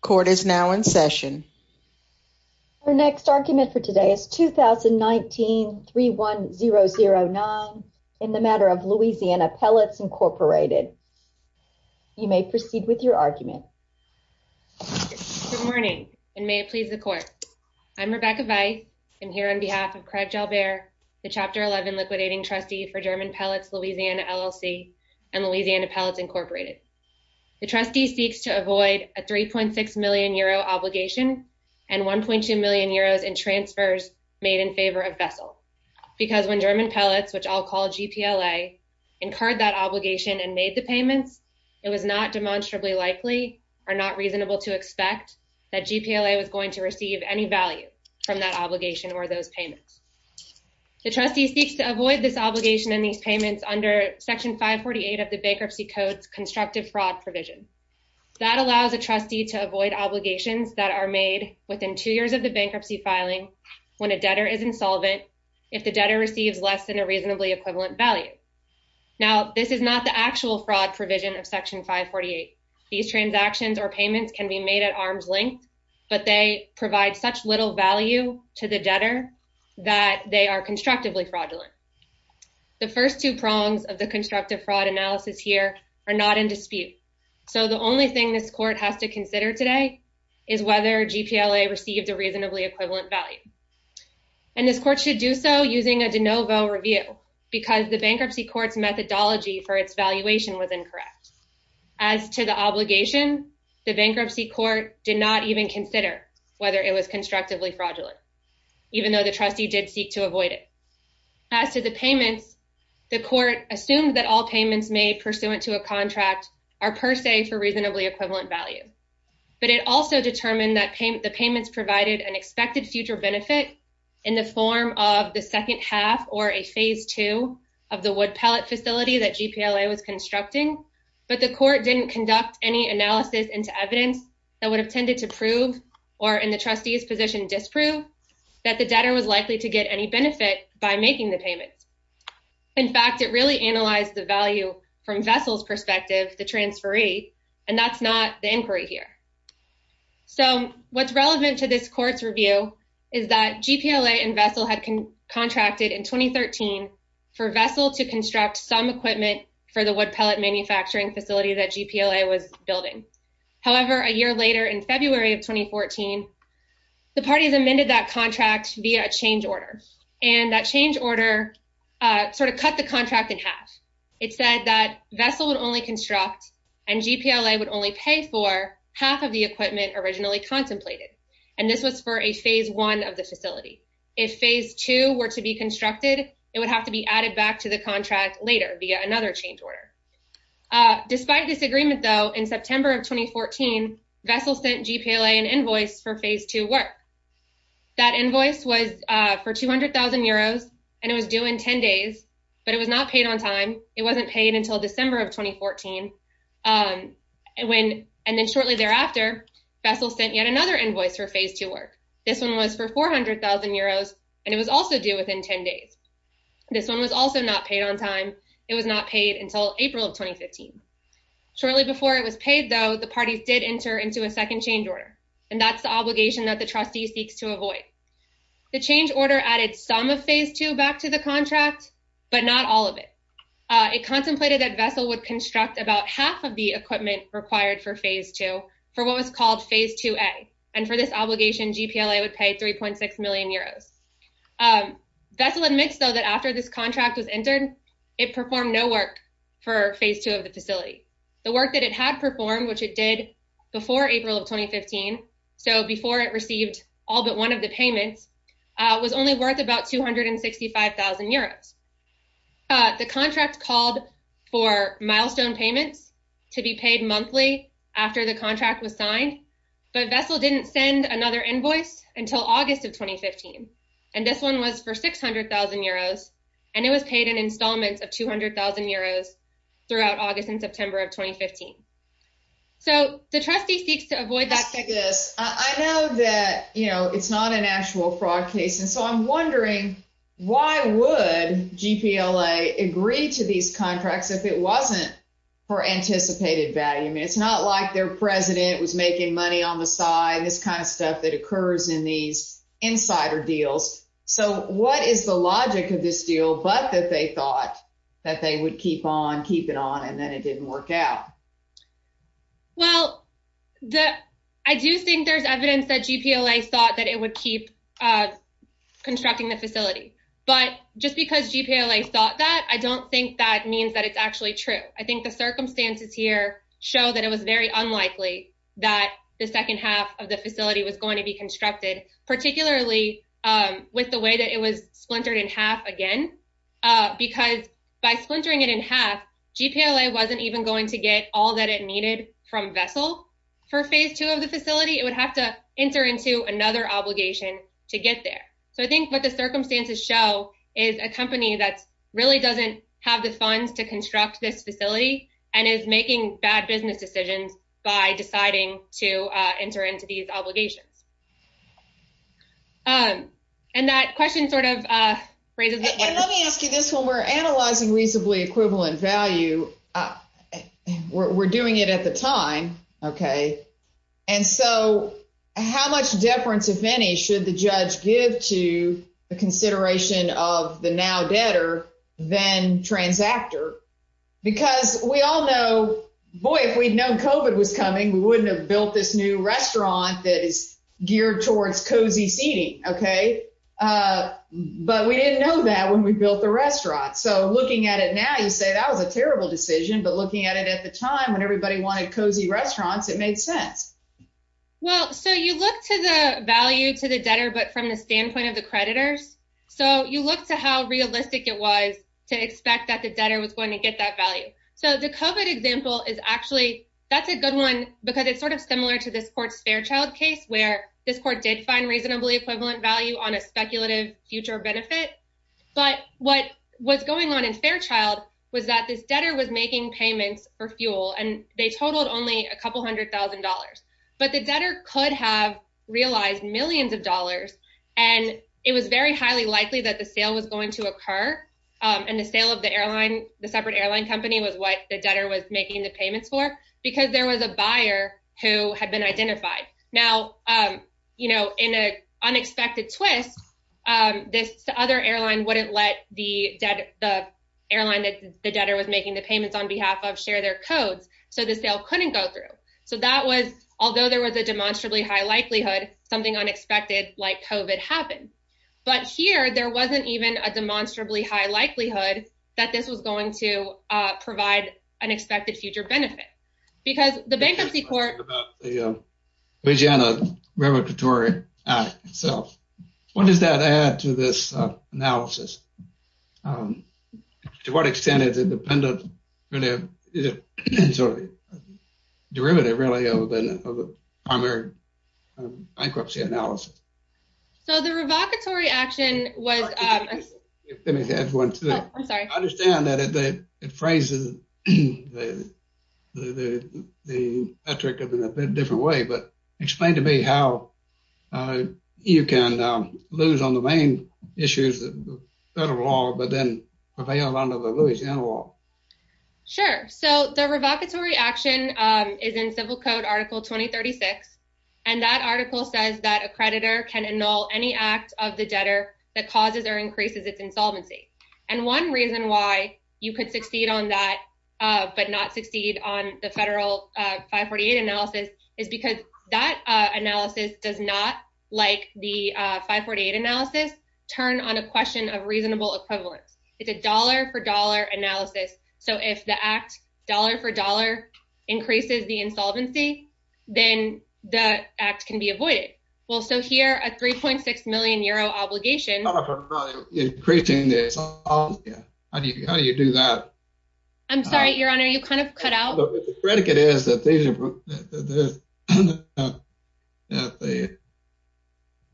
Court is now in session. Our next argument for today is 2019 3 1 0 0 9 in the matter of Louisiana Pellets Incorporated. You may proceed with your argument. Good morning and may it please the court. I'm Rebecca Veith. I'm here on behalf of Craig Jalbert, the chapter 11 liquidating trustee for German Pellets Louisiana LLC and Louisiana Pellets Incorporated. The trustee seeks to avoid a 3.6 million euro obligation and 1.2 million euros in transfers made in favor of vessel. Because when German Pellets, which I'll call G. P. L. A. incurred that obligation and made the payments, it was not demonstrably likely or not reasonable to expect that G. P. L. A. Was going to receive any value from that obligation or those payments. The trustee seeks to avoid this obligation in these payments under Section 5 48 of the Bankruptcy Codes constructive fraud provision that allows a trustee to avoid obligations that are made within two years of the bankruptcy filing when a debtor is insolvent. If the debtor receives less than a reasonably equivalent value. Now, this is not the actual fraud provision of Section 5 48. These transactions or payments can be made at arm's length, but they provide such little value to the debtor that they are constructively fraudulent. The first two prongs of the in dispute. So the only thing this court has to consider today is whether G. P. L. A. Received a reasonably equivalent value, and this court should do so using a de novo review because the bankruptcy court's methodology for its valuation was incorrect. As to the obligation, the bankruptcy court did not even consider whether it was constructively fraudulent, even though the trustee did seek to avoid it. As to the payments, the court assumed that all payments made pursuant to a contract are per se for reasonably equivalent value. But it also determined that the payments provided an expected future benefit in the form of the second half or a phase two of the wood pellet facility that G. P. L. A. Was constructing. But the court didn't conduct any analysis into evidence that would have tended to prove or in the trustees position disprove that the debtor was likely to get any benefit by value from vessels perspective, the transferee, and that's not the inquiry here. So what's relevant to this court's review is that G. P. L. A. And vessel had contracted in 2013 for vessel to construct some equipment for the wood pellet manufacturing facility that G. P. L. A. Was building. However, a year later, in February of 2014, the parties amended that contract via a change order sort of cut the contract in half. It said that vessel would only construct and G. P. L. A. Would only pay for half of the equipment originally contemplated, and this was for a phase one of the facility. If phase two were to be constructed, it would have to be added back to the contract later via another change order. Uh, despite this agreement, though, in September of 2014, vessel sent G. P. L. A. An invoice for phase two work. That invoice was for 200,000 euros, and it was doing 10 days, but it was not paid on time. It wasn't paid until December of 2014. Um, when and then shortly thereafter, vessel sent yet another invoice for phase to work. This one was for 400,000 euros, and it was also do within 10 days. This one was also not paid on time. It was not paid until April of 2015. Shortly before it was paid, though, the parties did enter into a second change order, and that's the order added some of phase two back to the contract, but not all of it. It contemplated that vessel would construct about half of the equipment required for phase two for what was called Phase two A. And for this obligation, G. P. L. A. Would pay 3.6 million euros. Um, vessel admits, though, that after this contract was entered, it performed no work for phase two of the facility. The work that it had performed, which it did before April of 2015. So before it received all but one of the payments was only worth about 265,000 euros. The contract called for milestone payments to be paid monthly after the contract was signed. But vessel didn't send another invoice until August of 2015, and this one was for 600,000 euros, and it was paid in installments of 200,000 euros throughout August and September of 2015. So the trustee seeks to avoid that. Yes, I know that, you know, it's not an actual fraud case. And so I'm wondering why would G. P. L. A. Agree to these contracts if it wasn't for anticipated value? It's not like their president was making money on the side. This kind of stuff that occurs in these insider deals. So what is the logic of this deal? But that they thought that they would keep on keep it on, and then it didn't work out. Well, the I do think there's evidence that G. P. L. A. Thought that it would keep, uh, constructing the facility. But just because G. P. L. A. Thought that I don't think that means that it's actually true. I think the circumstances here show that it was very unlikely that the second half of the facility was going to be constructed, particularly with the way that it was splintered in again because by splintering it in half, G. P. L. A. Wasn't even going to get all that it needed from vessel for phase two of the facility. It would have to enter into another obligation to get there. So I think what the circumstances show is a company that really doesn't have the funds to construct this facility and is making bad business decisions by deciding to let me ask you this. When we're analyzing reasonably equivalent value, uh, we're doing it at the time. Okay. And so how much deference, if any, should the judge give to the consideration of the now debtor than transactor? Because we all know, boy, if we'd known Covid was coming, we wouldn't have built this new restaurant that is geared towards cozy seating. Okay. Uh, but we didn't know that when we built the restaurant. So looking at it now, you say that was a terrible decision. But looking at it at the time when everybody wanted cozy restaurants, it made sense. Well, so you look to the value to the debtor, but from the standpoint of the creditors. So you look to how realistic it was to expect that the debtor was going to get that value. So the Covid example is actually that's a good one because it's sort of similar to this court's Fairchild case, where this court did find reasonably equivalent value on a speculative future benefit. But what was going on in Fairchild was that this debtor was making payments for fuel, and they totaled only a couple $100,000. But the debtor could have realized millions of dollars, and it was very highly likely that the sale was going to occur on the sale of the airline. The separate airline company was what the debtor was making the payments for because there was a buyer who had been identified. Now, you know, in a unexpected twist, this other airline wouldn't let the airline that the debtor was making the payments on behalf of share their codes. So the sale couldn't go through. So that was although there was a demonstrably high likelihood something unexpected like Covid happened. But here there wasn't even a demonstrably high likelihood that this was going to provide an expected future benefit. Because the bankruptcy court, Louisiana Revocatory Act itself, what does that add to this analysis? To what extent is it dependent? Derivative, really, of the primary bankruptcy analysis. So the revocatory action was let me have one. I'm sorry. I understand that it phrases the metric of in a bit different way. But explain to me how you can lose on the main issues of federal law, but then avail under the Louisiana law. Sure. So the revocatory action is in civil code Article 2036. And that article says that a creditor can annul any act of the debtor that causes or increases its insolvency. And one reason why you could succeed on that but not succeed on the federal 548 analysis is because that analysis does not like the 548 analysis turn on a question of reasonable equivalence. It's a dollar for dollar analysis. So if the act dollar for dollar increases the that act can be avoided. Well, so here, a 3.6 million euro obligation increasing this. How do you do that? I'm sorry, Your Honor, you kind of cut out. The predicate is that they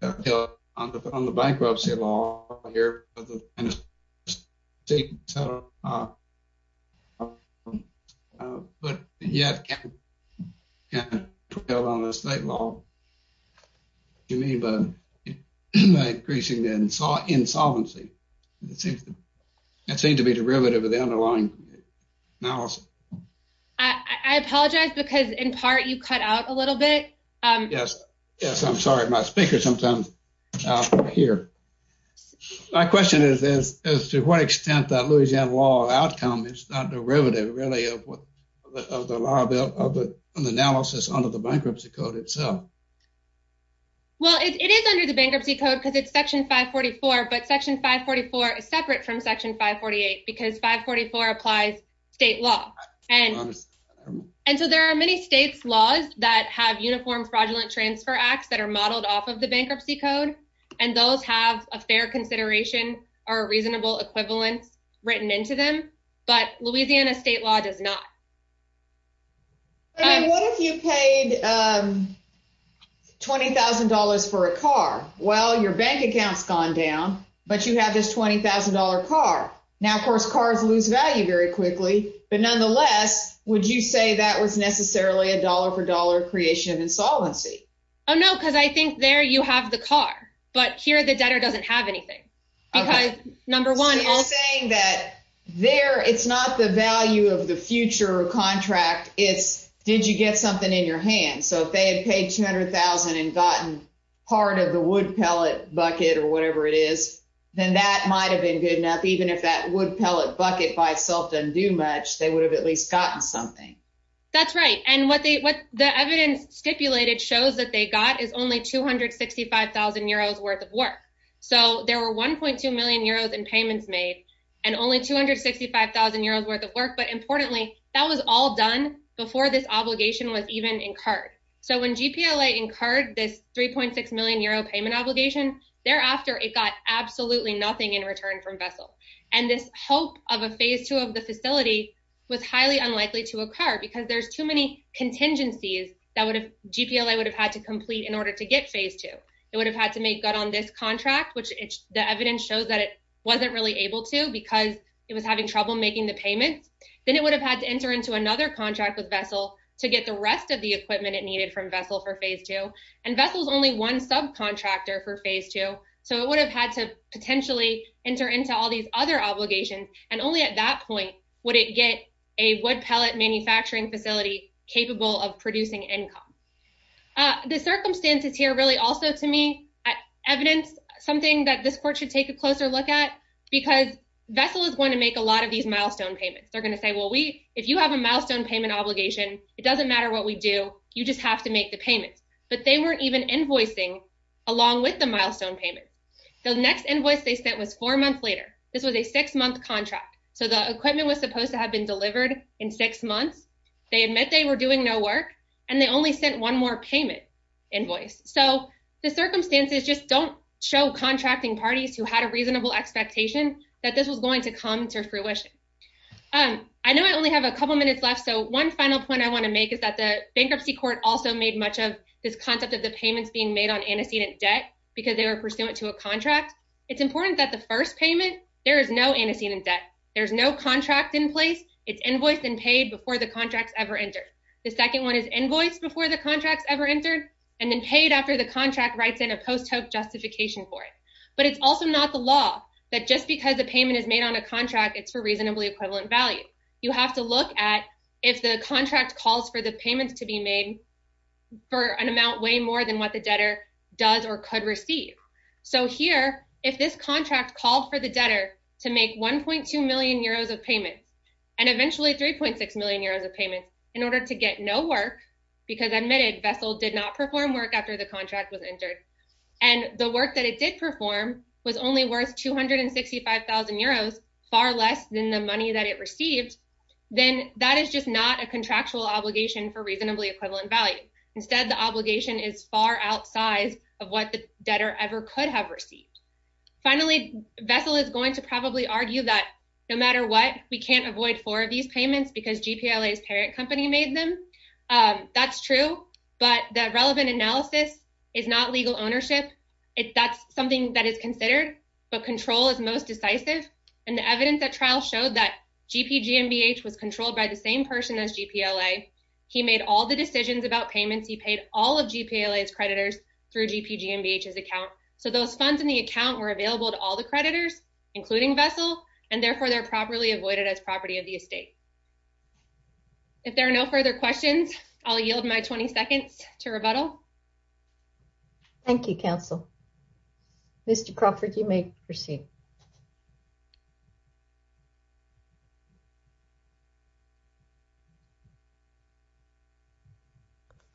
that they on the bankruptcy law here. Take but yet yeah, the state law you mean by increasing the saw insolvency? It seems that seemed to be derivative of the underlying now. I apologize because in part you cut out a little bit. Yes. Yes. I'm sorry. My speaker sometimes here. My question is, is to what extent that Louisiana law outcome is not derivative really of what of the liability of the analysis under the bankruptcy code itself? Well, it is under the bankruptcy code because it's section 5 44. But Section 5 44 is separate from Section 5 48 because 5 44 applies state law. And so there are many states laws that have uniform fraudulent transfer acts that are modeled off of the bankruptcy code, and those have a fair consideration or reasonable equivalence written into them. But Louisiana state law does not. I mean, what if you paid $20,000 for a car? Well, your bank accounts gone down, but you have this $20,000 car. Now, of course, cars lose value very quickly. But nonetheless, would you say that was necessarily a dollar for dollar creation of insolvency? Oh, no, because I think there you have the car. But here the debtor doesn't have anything because number one saying that there it's not the value of the future contract. It's did you get something in your hand? So if they had paid 200,000 and gotten part of the wood pellet bucket or whatever it is, then that might have been good enough. Even if that wood pellet bucket by itself didn't do much, they would have at least gotten something. That's right. And what they what the evidence stipulated shows that they got is only 265,000 euros worth of work. So there were 1.2 million euros in payments made and only 265,000 euros worth of work. But importantly, that was all done before this obligation was even incurred. So when GPLA incurred this 3.6 million euro payment obligation thereafter, it got absolutely nothing in return from vessel. And this hope of a phase two of the facility was highly unlikely to occur because there's too many contingencies that would have GPLA would have had to complete in order to get phase two. It would have had to make good on this contract, which the evidence shows that it wasn't really able to because it was having trouble making the payments. Then it would have had to enter into another contract with vessel to get the rest of the equipment it needed from vessel for phase two. And vessels only one subcontractor for phase two. So it would have had to potentially enter into all these other obligations. And only at that point would it get a wood pellet manufacturing facility capable of producing income. The circumstances here really also to me, evidence, something that this court should take a closer look at, because vessel is going to make a lot of these milestone payments, they're going to say, well, we if you have a milestone payment obligation, it doesn't matter what we do, you just have to make the payments, but they weren't even invoicing, along with the milestone payment. The next invoice they sent was four months later, this was a six month contract. So the equipment was supposed to have been delivered in six months, they admit they were doing no work, and they only sent one more payment invoice. So the circumstances just don't show contracting parties who had a reasonable expectation that this was going to come to fruition. Um, I know I only have a couple minutes left. So one final point I want to make is that the bankruptcy court also made much of this concept of the payments being made on antecedent debt, because they were pursuant to a contract, it's important that the first payment, there is no antecedent debt, there's no contract in place, it's invoiced and paid before the contracts ever entered. The second one is invoiced before the contracts ever entered, and then paid after the contract writes in a post hoc justification for it. But it's also not the law that just because the payment is made on a contract, it's for reasonably equivalent value, you have to look at if the contract calls for the payments to be made for an amount way more than what the debtor does or could receive. So here, if this contract called for the debtor to make 1.2 million euros of payments, and eventually 3.6 million euros of payments in order to get no work, because admitted vessel did not perform work after the contract was entered. And the work that it did perform was only worth 265,000 euros, far less than the money that it received, then that is just not a contractual obligation for reasonably equivalent value. Instead, the obligation is far outside of what the debtor ever could have received. Finally, vessel is going to probably argue that no matter what, we can't avoid four of these payments because GPLA's parent company made them. That's true, but that relevant analysis is not legal ownership, if that's something that is considered, but control is most decisive. And the evidence that trial showed that GPGMBH was controlled by the same person as GPLA, he made all the decisions about payments, he paid all of GPLA's creditors through GPGMBH's account. So those funds in the account were available to all the creditors, including vessel, and therefore they're properly avoided as property of the estate. If there are no further questions, I'll yield my 20 seconds to rebuttal. Thank you, counsel. Mr. Crawford, you may proceed.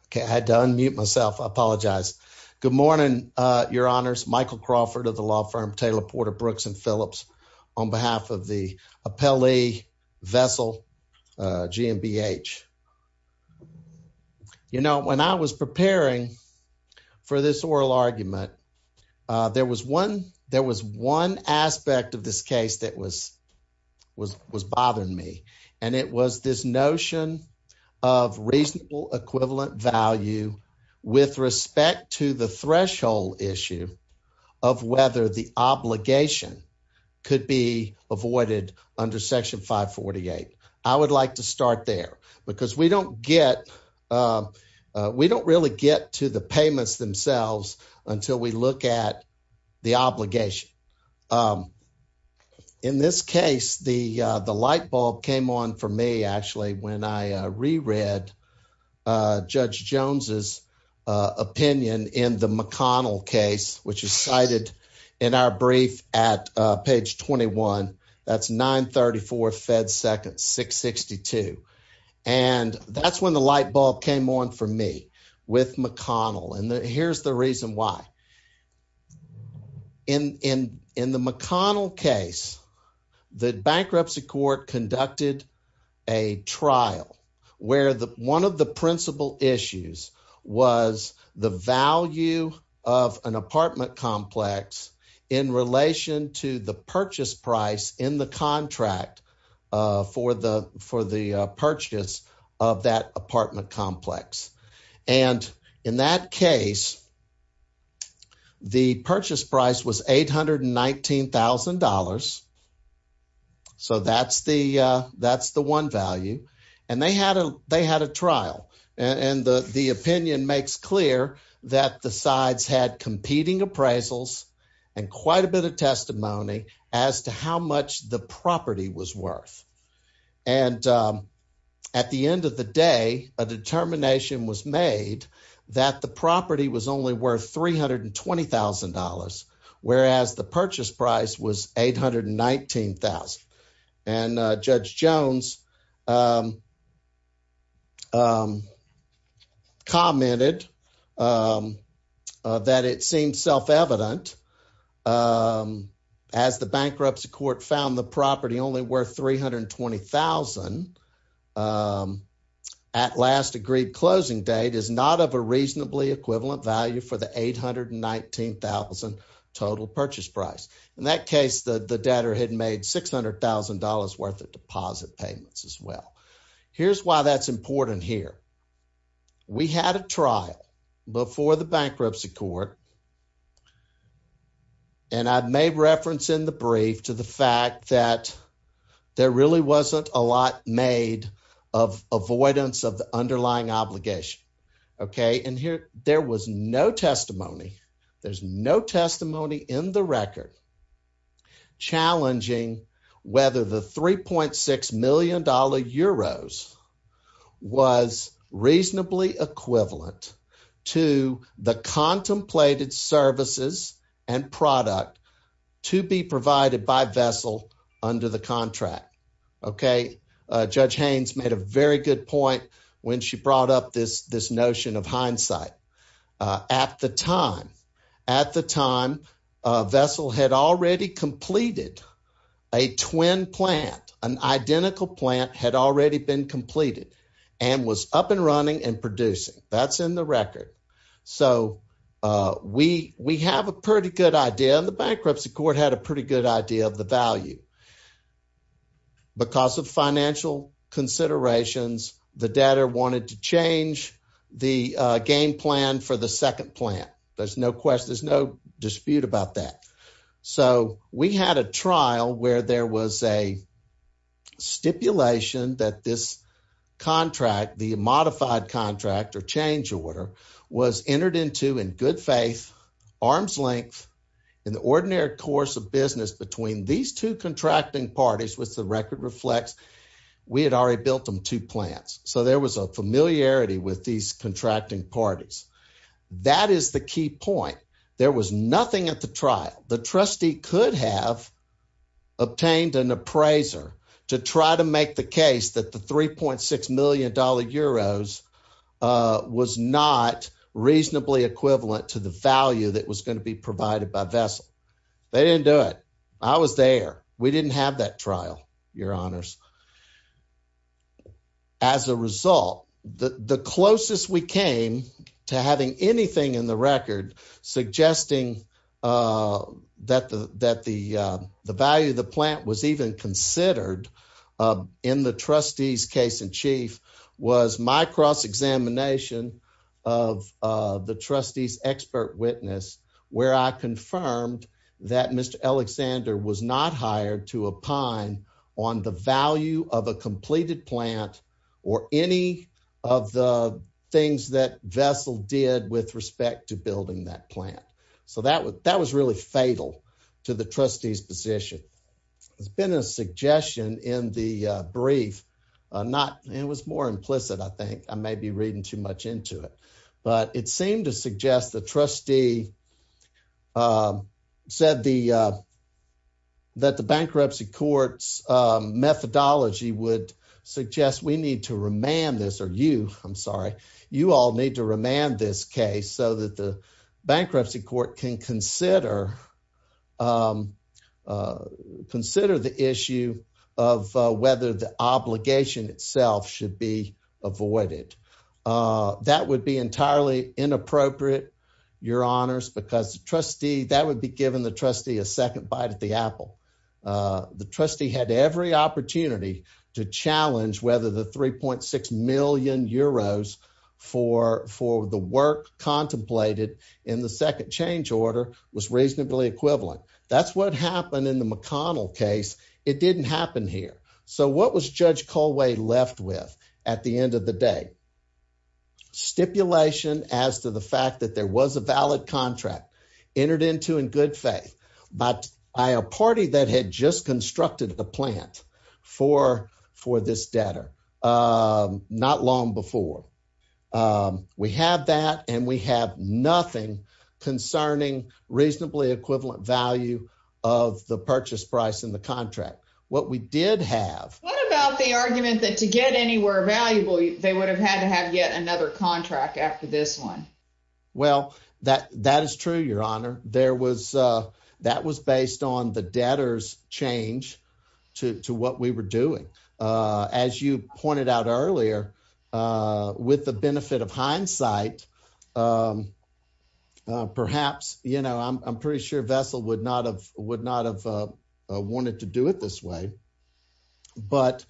Okay, I had to unmute myself. I apologize. Good morning, your honors. Michael Crawford of the law firm Taylor Porter Brooks and Phillips on behalf of the appellee, Vessel GMBH. You know, when I was preparing for this oral argument, there was one aspect of this case that was bothering me, and it was this notion of reasonable equivalent value with respect to the threshold issue of whether the obligation could be avoided under section 548. I would like to start there, because we don't get, we don't really get to the payments themselves until we look at the obligation. In this case, the light bulb came on for me, actually, when I reread Judge Jones's opinion in the McConnell case, which is cited in our brief at page 21. That's 934 Fed Seconds 662. And that's when the light bulb came on for me with McConnell, and here's the reason why. In the McConnell case, the bankruptcy court conducted a trial where one of the principal issues was the value of an apartment complex in relation to the purchase price in the And in that case, the purchase price was $819,000. So that's the one value. And they had a trial, and the opinion makes clear that the sides had competing appraisals and quite a bit of testimony as to how much the property was worth. And at the end of the day, a determination was made that the property was only worth $320,000, whereas the purchase price was $819,000. And Judge Jones commented that it seemed self-evident as the bankruptcy court found the property only worth $320,000 at last agreed closing date is not of a reasonably equivalent value for the $819,000 total purchase price. In that case, the debtor had made $600,000 worth of deposit payments as well. Here's why that's important here. We had a trial before the bankruptcy court. And I've made reference in the brief to the fact that there really wasn't a lot made of avoidance of the underlying obligation. Okay. And here there was no testimony. There's no testimony in the record challenging whether the $3.6 million euros was reasonably equivalent to the contemplated services and product to be provided by Vessel under the contract. Okay. Judge Haynes made a very good point when she brought up this notion of hindsight. At the time, at the time, Vessel had already completed a twin plant, an identical plant had already been completed and was up and running and producing. That's in the record. So we have a pretty good idea. The bankruptcy court had a pretty good idea of the value. Because of financial considerations, the debtor wanted to change the game plan for the second plant. There's no question. There's no dispute about that. So we had a trial where there was a stipulation that this contract, the modified contract or change order, was entered into in good faith, arm's length, in the ordinary course of business between these two contracting parties, which the record reflects. We had already built them two plants. So there was a familiarity with these contracting parties. That is the key point. There was nothing at the trial. The trustee could have obtained an appraiser to try to make the case that the $3.6 million euros was not reasonably equivalent to the value that was going to be provided by Vessel. They didn't do it. I was there. We didn't have that trial, your honors. As a result, the closest we came to having anything in the record suggesting, uh, that the that the value of the plant was even considered in the trustees case in chief was my cross examination of the trustees expert witness, where I confirmed that Mr Alexander was not hired to a pine on the value of a completed plant or any of the things that Vessel did with respect to building that plant. So that was that was really fatal to the trustees position. It's been a suggestion in the brief, not it was more implicit. I think I may be reading too much into it, but it seemed to suggest the trustee, uh, said the, uh, that the bankruptcy court's methodology would suggest we need to remand this or you. I'm sorry. You all need to remand this case so that the bankruptcy court can consider, um, uh, consider the issue of whether the obligation itself should be avoided. Uh, that would be entirely inappropriate, your honors, because trustee that would be given the trustee a second bite at the apple. Uh, the trustee had every opportunity to challenge whether the 3.6 million euros for for the work contemplated in the second change order was reasonably equivalent. That's what happened in the McConnell case. It didn't happen here. So what was Judge Colway left with at the end of the day? Stipulation as to the fact that there was a valid contract entered into in good faith, but by a party that had just constructed the plant for for this debtor. Um, not long before, um, we have that and we have nothing concerning reasonably equivalent value of the purchase price in the contract. What we did have. What about the argument that to get anywhere valuable, they would have had to have yet another contract after this one. Well, that that is true, your honor. There was, uh, that was based on the debtors change to what we were doing. Uh, as you pointed out earlier, uh, with the benefit of hindsight, um, perhaps, you know, I'm pretty sure vessel would not have would But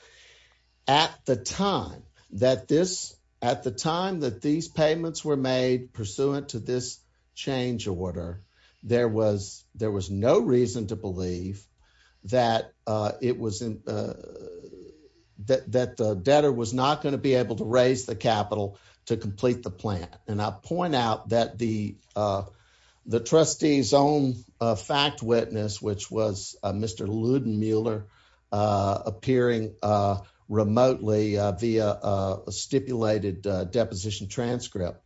at the time that this at the time that these payments were made pursuant to this change order, there was there was no reason to believe that it was that the debtor was not going to be able to raise the capital to complete the plant. And I point out that the, uh, the trustees own fact witness, which was Mr Luden Mueller, uh, appearing, uh, remotely via a stipulated deposition transcript,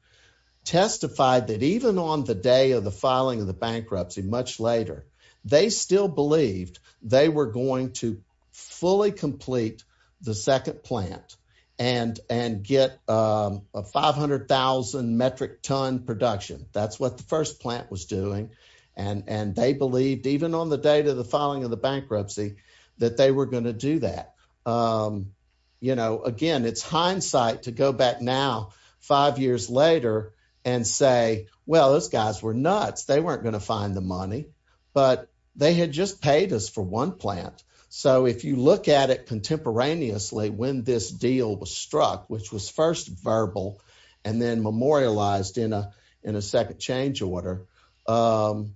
testified that even on the day of the filing of the bankruptcy, much later, they still believed they were going to fully complete the second plant and and get a 500,000 metric ton production. That's what the first plant was doing. And and they believed, even on the date of the filing of the bankruptcy, that they were going to do that. Um, you know, again, it's hindsight to go back now, five years later and say, Well, those guys were nuts. They weren't going to find the money, but they had just paid us for one plant. So if you look at it contemporaneously, when this deal was struck, which was first verbal and then memorialized in a in a second change order, um,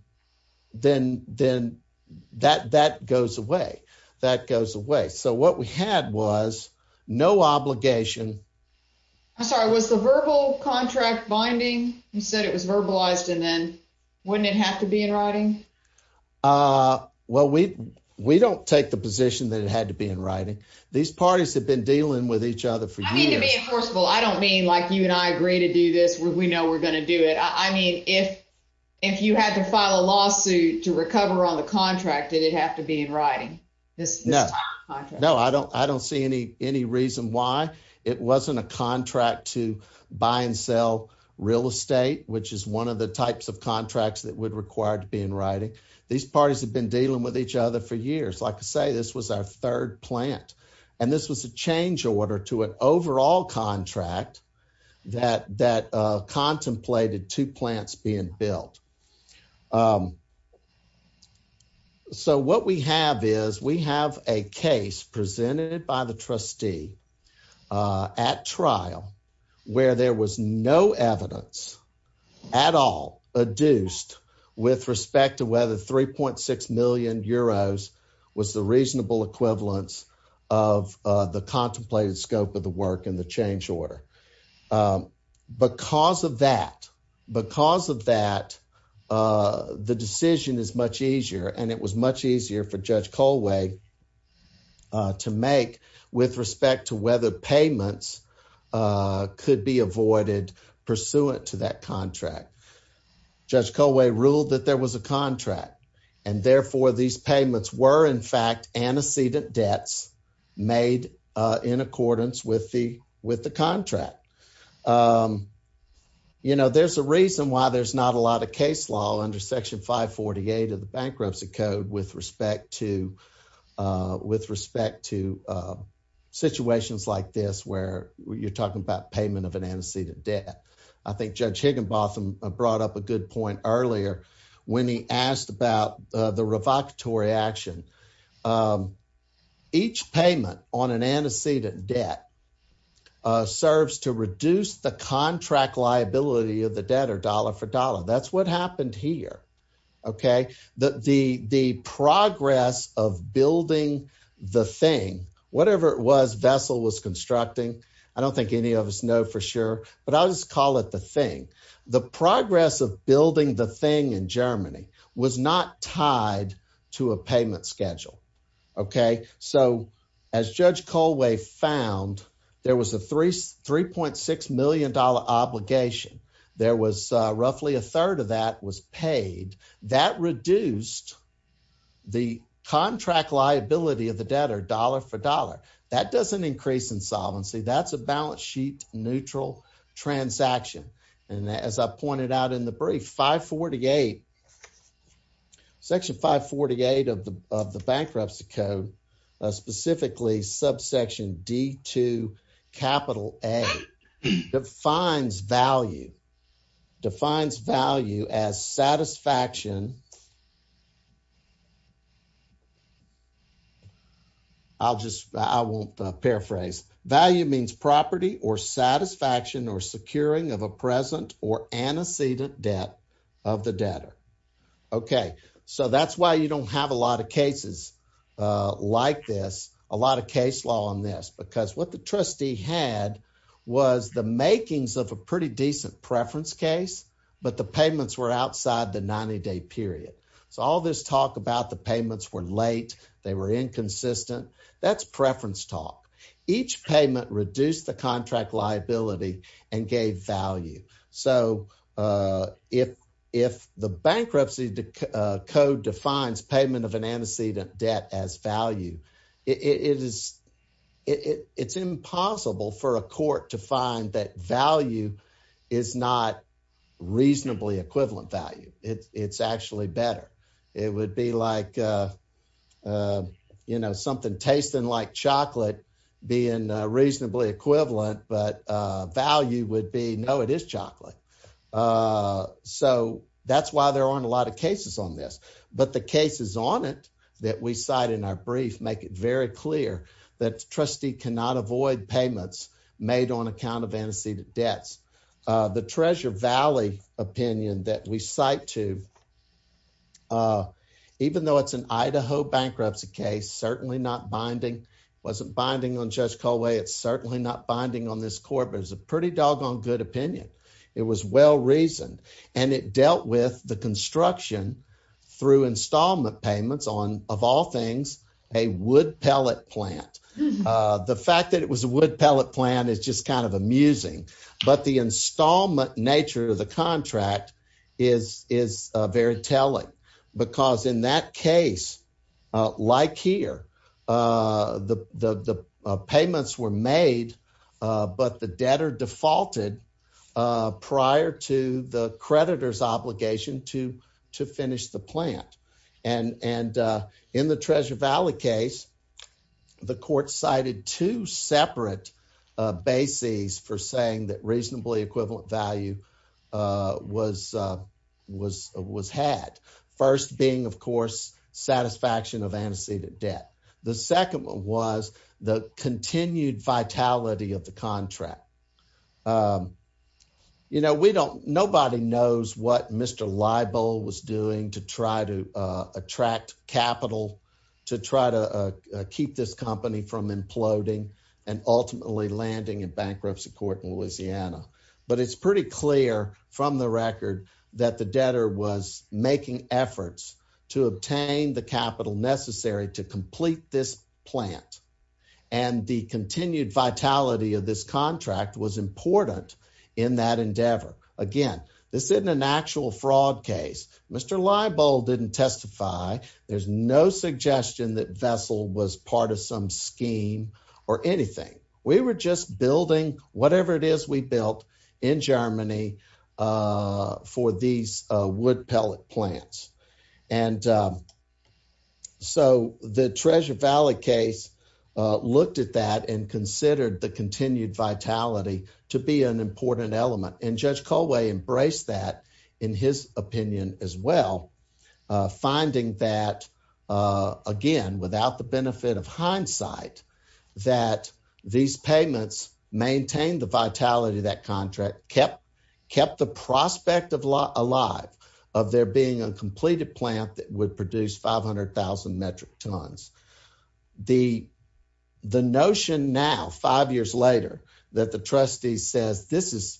then then that that goes away, that goes away. So what we had was no obligation. I'm sorry. Was the verbal contract binding? You said it was verbalized. And then wouldn't it have to be in writing? Uh, well, we we don't take the position that it had to be in writing. These parties have been dealing with each other for years. I don't mean like you and I agree to do this. We know we're gonna do it. I mean, if if you had to file a lawsuit to recover on the contract, did it have to be in writing this? No, no, I don't. I don't see any any reason why it wasn't a contract to buy and sell real estate, which is one of the types of contracts that would required to be in writing. These parties have been dealing with each other for years. Like I say, this was our third plant, and this was a change order to an overall contract that that contemplated two plants being built. Um, so what we have is we have a case presented by the trustee, uh, at trial where there was no evidence at all adduced with respect to whether 3.6 million euros was the reasonable equivalence of the contemplated scope of work in the change order. Um, because of that, because of that, uh, the decision is much easier, and it was much easier for Judge Colway, uh, to make with respect to whether payments, uh, could be avoided pursuant to that contract. Judge Colway ruled that there was a contract, and therefore these payments were, in fact, antecedent debts made in accordance with the with the contract. Um, you know, there's a reason why there's not a lot of case law under Section 548 of the Bankruptcy Code with respect to, uh, with respect to, uh, situations like this where you're talking about payment of an antecedent debt. I think Judge Higginbotham brought up a good point earlier when he asked about, uh, the revocatory action. Um, each payment on an antecedent debt, uh, serves to reduce the contract liability of the debtor dollar for dollar. That's what happened here, okay? The, the, the progress of building the thing, whatever it was Vessel was constructing, I don't think any of us know for sure, but I'll just call it the thing. The progress of building the thing in Germany was not tied to a payment schedule, okay? So, as Judge Colway found, there was a three, $3.6 million obligation. There was, uh, roughly a third of that was paid. That reduced the contract liability of the debtor dollar for dollar. That doesn't increase insolvency. That's a balance sheet neutral transaction. And as I pointed out in the brief, 548, section 548 of the, of the bankruptcy code, uh, specifically subsection D2 capital A defines value, defines value as satisfaction. I'll just, I won't, uh, paraphrase value means property or satisfaction or securing of a present or antecedent debt of the debtor. Okay. So that's why you don't have a lot of cases, uh, like this, a lot of case law on this, because what the trustee had was the makings of a pretty decent preference case, but the payments were outside the 90 day period. So all this talk about the payments were late. They were inconsistent. That's preference talk. Each payment reduced the contract liability and gave value. So, uh, if, if the bankruptcy code defines payment of an antecedent debt as value, it is, it, it's impossible for a court to find that value is not reasonably equivalent value. It's actually better. It would be like, uh, uh, you know, something tasting like chocolate being a reasonably equivalent, but, uh, value would be no, it is chocolate. Uh, so that's why there aren't a lot of cases on this, but the cases on it that we cite in our brief, make it very clear that trustee cannot avoid payments made on account of antecedent debts. Uh, the treasure Valley opinion that we cite to, uh, even though it's an Idaho bankruptcy case, certainly not binding, wasn't binding on judge Colway. It's certainly not binding on this court, but it's a pretty doggone good opinion. It was well-reasoned and it dealt with the construction through installment payments on of all things, a wood pellet plant. Uh, the fact that it was a wood pellet plan is just kind of amusing, but the installment nature of the contract is, is a very telling because in that case, uh, like here, uh, the, the, the, uh, payments were made, uh, but the debtor defaulted, uh, prior to the creditor's obligation to, to finish the plant. And, and, uh, in the treasure Valley case, the court cited two separate, uh, bases for saying that reasonably equivalent value, uh, was, uh, was, was had first being of course, satisfaction of antecedent debt. The second one was the continued vitality of the contract. Um, you know, we don't, nobody knows what Mr. Libel was doing to try to, uh, attract capital to try to, uh, uh, keep this company from imploding and ultimately landing in bankruptcy court in Louisiana. But it's pretty clear from the record that the debtor was making efforts to obtain the contract was important in that endeavor. Again, this isn't an actual fraud case. Mr. Libel didn't testify. There's no suggestion that vessel was part of some scheme or anything. We were just building whatever it is we built in Germany, uh, for these, uh, wood pellet plants. And, um, so the treasure Valley case, uh, looked at that and considered the continued vitality to be an important element. And judge Colway embraced that in his opinion as well. Uh, finding that, uh, again, without the benefit of hindsight that these payments maintain the vitality of that contract, kept, kept the prospect of law alive of there being a completed plant that would produce 500,000 metric tons. The, the notion now five years later that the trustee says, this is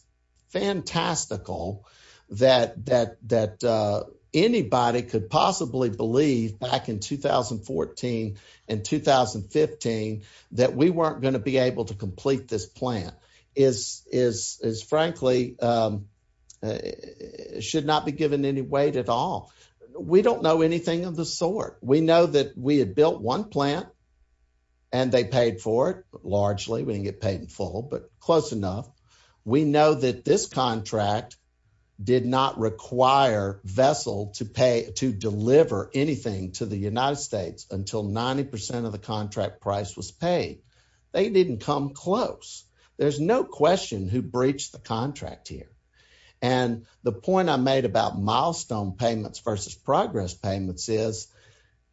fantastical that, that, that, uh, anybody could possibly believe back in 2014 and 2015, that we weren't going to be able to complete this plant is, is, is frankly, um, uh, should not be given any weight at all. We don't know anything of the sort. We know that we had built one plant and they paid for it, but largely we didn't get paid in full, but close enough. We know that this contract did not require vessel to pay, to deliver anything to the United States until 90% of the contract price was paid. They didn't come close. There's no question who breached the contract here. And the point I made about milestone payments versus progress payments is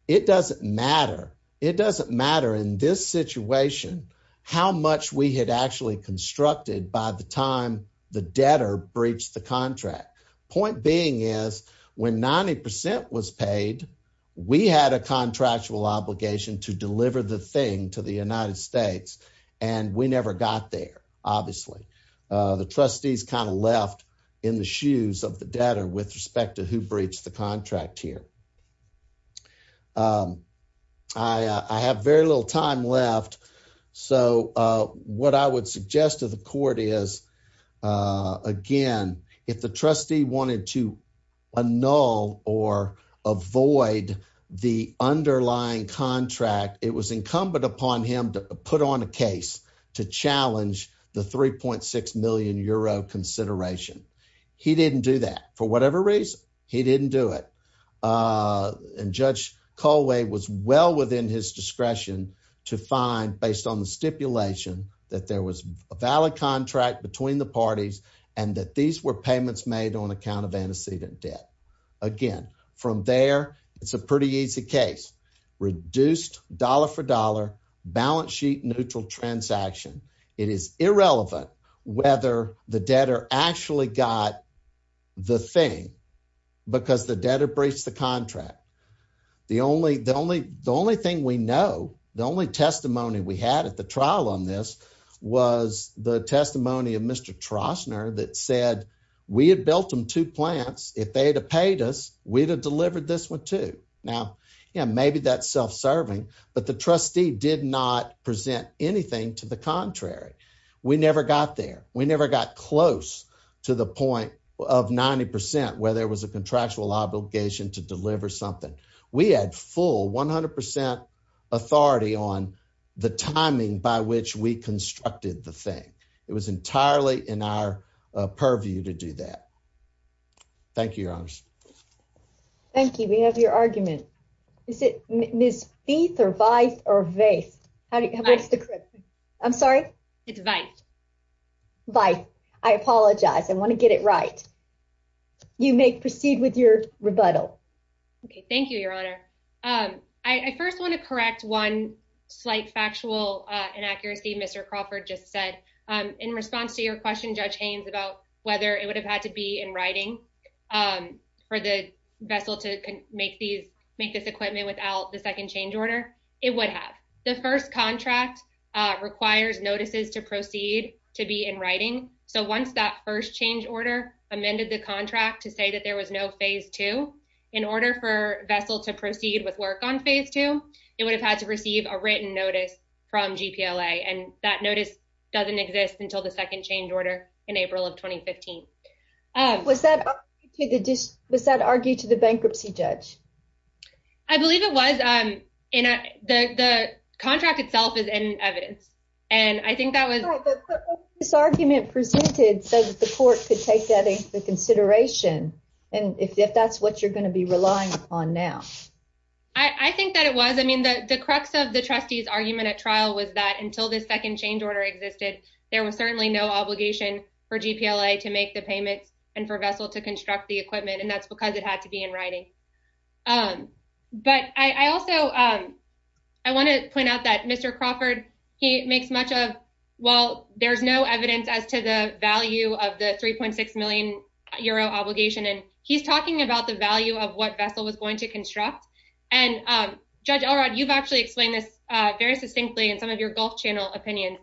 it doesn't matter. It doesn't matter in this situation, how much we had actually constructed by the time the debtor breached the contract. Point being is when 90% was paid, we had a contractual obligation to deliver the thing to the United States. And we never got there. Obviously, uh, the trustees kind of left in the shoes of the debtor with respect to who breached the contract here. Um, I, I have very little time left. So, uh, what I would suggest to the court is, uh, again, if the trustee wanted to annul or avoid the underlying contract, it was incumbent upon him to put on a case to challenge the 3.6 million euro consideration. He didn't do that. For whatever reason, he didn't do it. Uh, and Judge Colway was well within his discretion to find based on the stipulation that there was a valid contract between the parties and that these were payments made on account of antecedent debt. Again, from there, it's a pretty easy case. Reduced dollar for dollar balance sheet neutral transaction. It is irrelevant whether the debtor actually got the thing because the debtor breached the contract. The only the only the only thing we know, the only testimony we had at the trial on this was the testimony of Mr Trostner that said we had built them two plants. If they had paid us, we'd have delivered this one to now. Maybe that's self serving, but the trustee did not present anything to the contrary. We never got there. We never got close to the point of 90% where there was a contractual obligation to deliver something. We had full 100% authority on the timing by which we constructed the thing. It was entirely in our purview to Thank you, Your Honors. Thank you. We have your argument. Is it Miss Beath or vice or vase? How do you correct? I'm sorry. It's vice. Vice. I apologize. I want to get it right. You may proceed with your rebuttal. Okay, thank you, Your Honor. I first want to correct one slight factual inaccuracy. Mr Crawford just said in response to your question, Judge Haynes, about whether it would have had to be in writing for the vessel to make these make this equipment without the second change order. It would have. The first contract requires notices to proceed to be in writing. So once that first change order amended the contract to say that there was no phase two in order for vessel to proceed with work on phase two, it would have had to receive a written notice from G. P. L. A. And that notice doesn't exist until the second change order in April of 2015. Was that was that argued to the bankruptcy judge? I believe it was in the contract itself is in evidence, and I think that was this argument presented so that the court could take that into consideration. And if that's what you're going to be relying on now, I think that it was. I mean, the crux of the trustees argument at trial was that until the second change order existed, there was certainly no obligation for G. P. L. A. To make the payments and for vessel to construct the equipment, and that's because it had to be in writing. Um, but I also, um, I want to point out that Mr Crawford he makes much of. Well, there's no evidence as to the value of the 3.6 million euro obligation, and he's talking about the value of what vessel was going to construct. And, um, Judge Elrod, you've actually explained this very succinctly in some of your Gulf Channel opinion.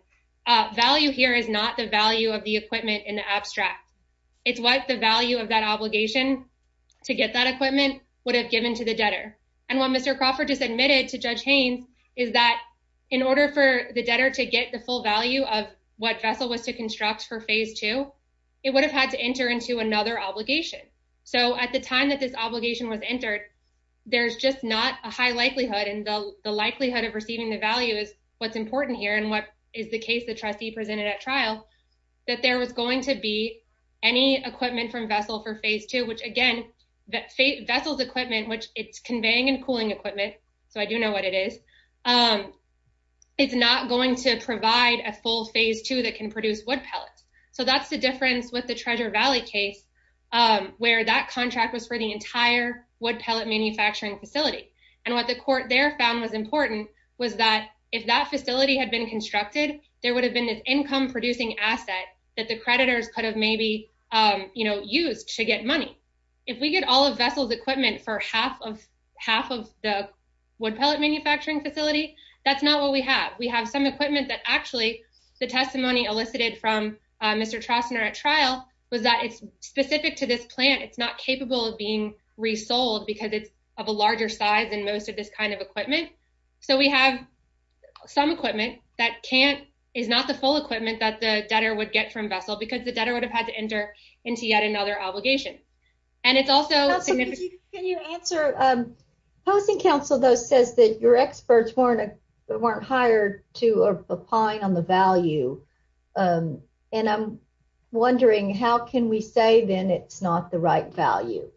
Value here is not the value of the equipment in the abstract. It's what the value of that obligation to get that equipment would have given to the debtor and what Mr Crawford just admitted to Judge Haynes is that in order for the debtor to get the full value of what vessel was to construct for phase two, it would have had to enter into another obligation. So at the time that this obligation was entered, there's just not a high likelihood and the likelihood of the trustee presented at trial that there was going to be any equipment from vessel for phase two, which again, vessels equipment, which it's conveying and cooling equipment. So I do know what it is. Um, it's not going to provide a full phase two that can produce wood pellets. So that's the difference with the Treasure Valley case, um, where that contract was for the entire wood pellet manufacturing facility. And what the court there found was important was that if that facility had been constructed, there would have been this income producing asset that the creditors could have maybe, um, you know, used to get money. If we get all of vessels equipment for half of half of the wood pellet manufacturing facility, that's not what we have. We have some equipment that actually the testimony elicited from Mr Trostner at trial was that it's specific to this plant. It's not capable of being resold because of a larger size and most of this kind of equipment. So we have some equipment that can't is not the full equipment that the debtor would get from vessel because the debtor would have had to enter into yet another obligation. And it's also can you answer? Um, hosting Council, though, says that your experts weren't weren't hired to applying on the value. Um, and I'm wondering, how can we say then it's not the right value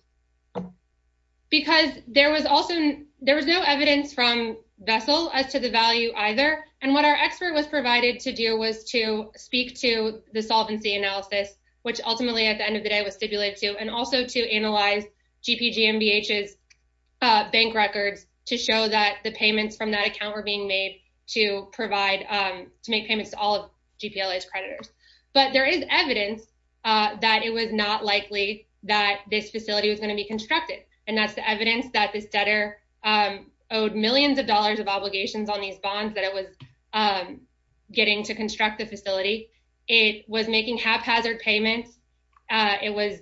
because there was also there was no evidence from vessel as to the value either. And what our expert was provided to do was to speak to the solvency analysis, which ultimately, at the end of the day, was stipulated to and also to analyze G. P. G. M. B. H. S. Uh, bank records to show that the payments from that account were being made to was not likely that this facility was gonna be constructed. And that's the evidence that this debtor, um, owed millions of dollars of obligations on these bonds that it was, um, getting to construct the facility. It was making haphazard payments. It was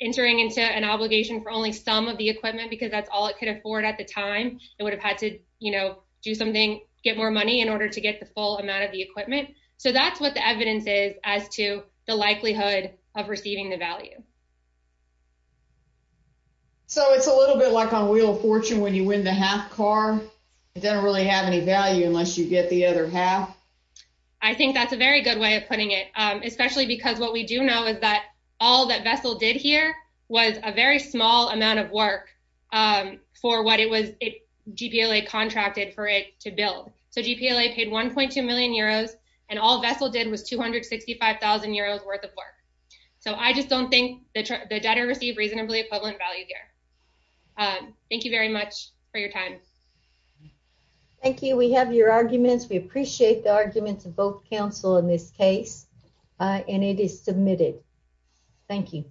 entering into an obligation for only some of the equipment because that's all it could afford. At the time, it would have had to, you know, do something, get more money in order to get the full amount of the equipment. So that's what the evidence is as to the likelihood of value. So it's a little bit like on Wheel of Fortune. When you win the half car, it doesn't really have any value unless you get the other half. I think that's a very good way of putting it, especially because what we do know is that all that vessel did here was a very small amount of work for what it was. G. P. L. A. Contracted for it to build. So G. P. L. A. Paid 1.2 million euros, and all the debtor received reasonably equivalent value here. Thank you very much for your time. Thank you. We have your arguments. We appreciate the arguments of both counsel in this case, and it is submitted. Thank you.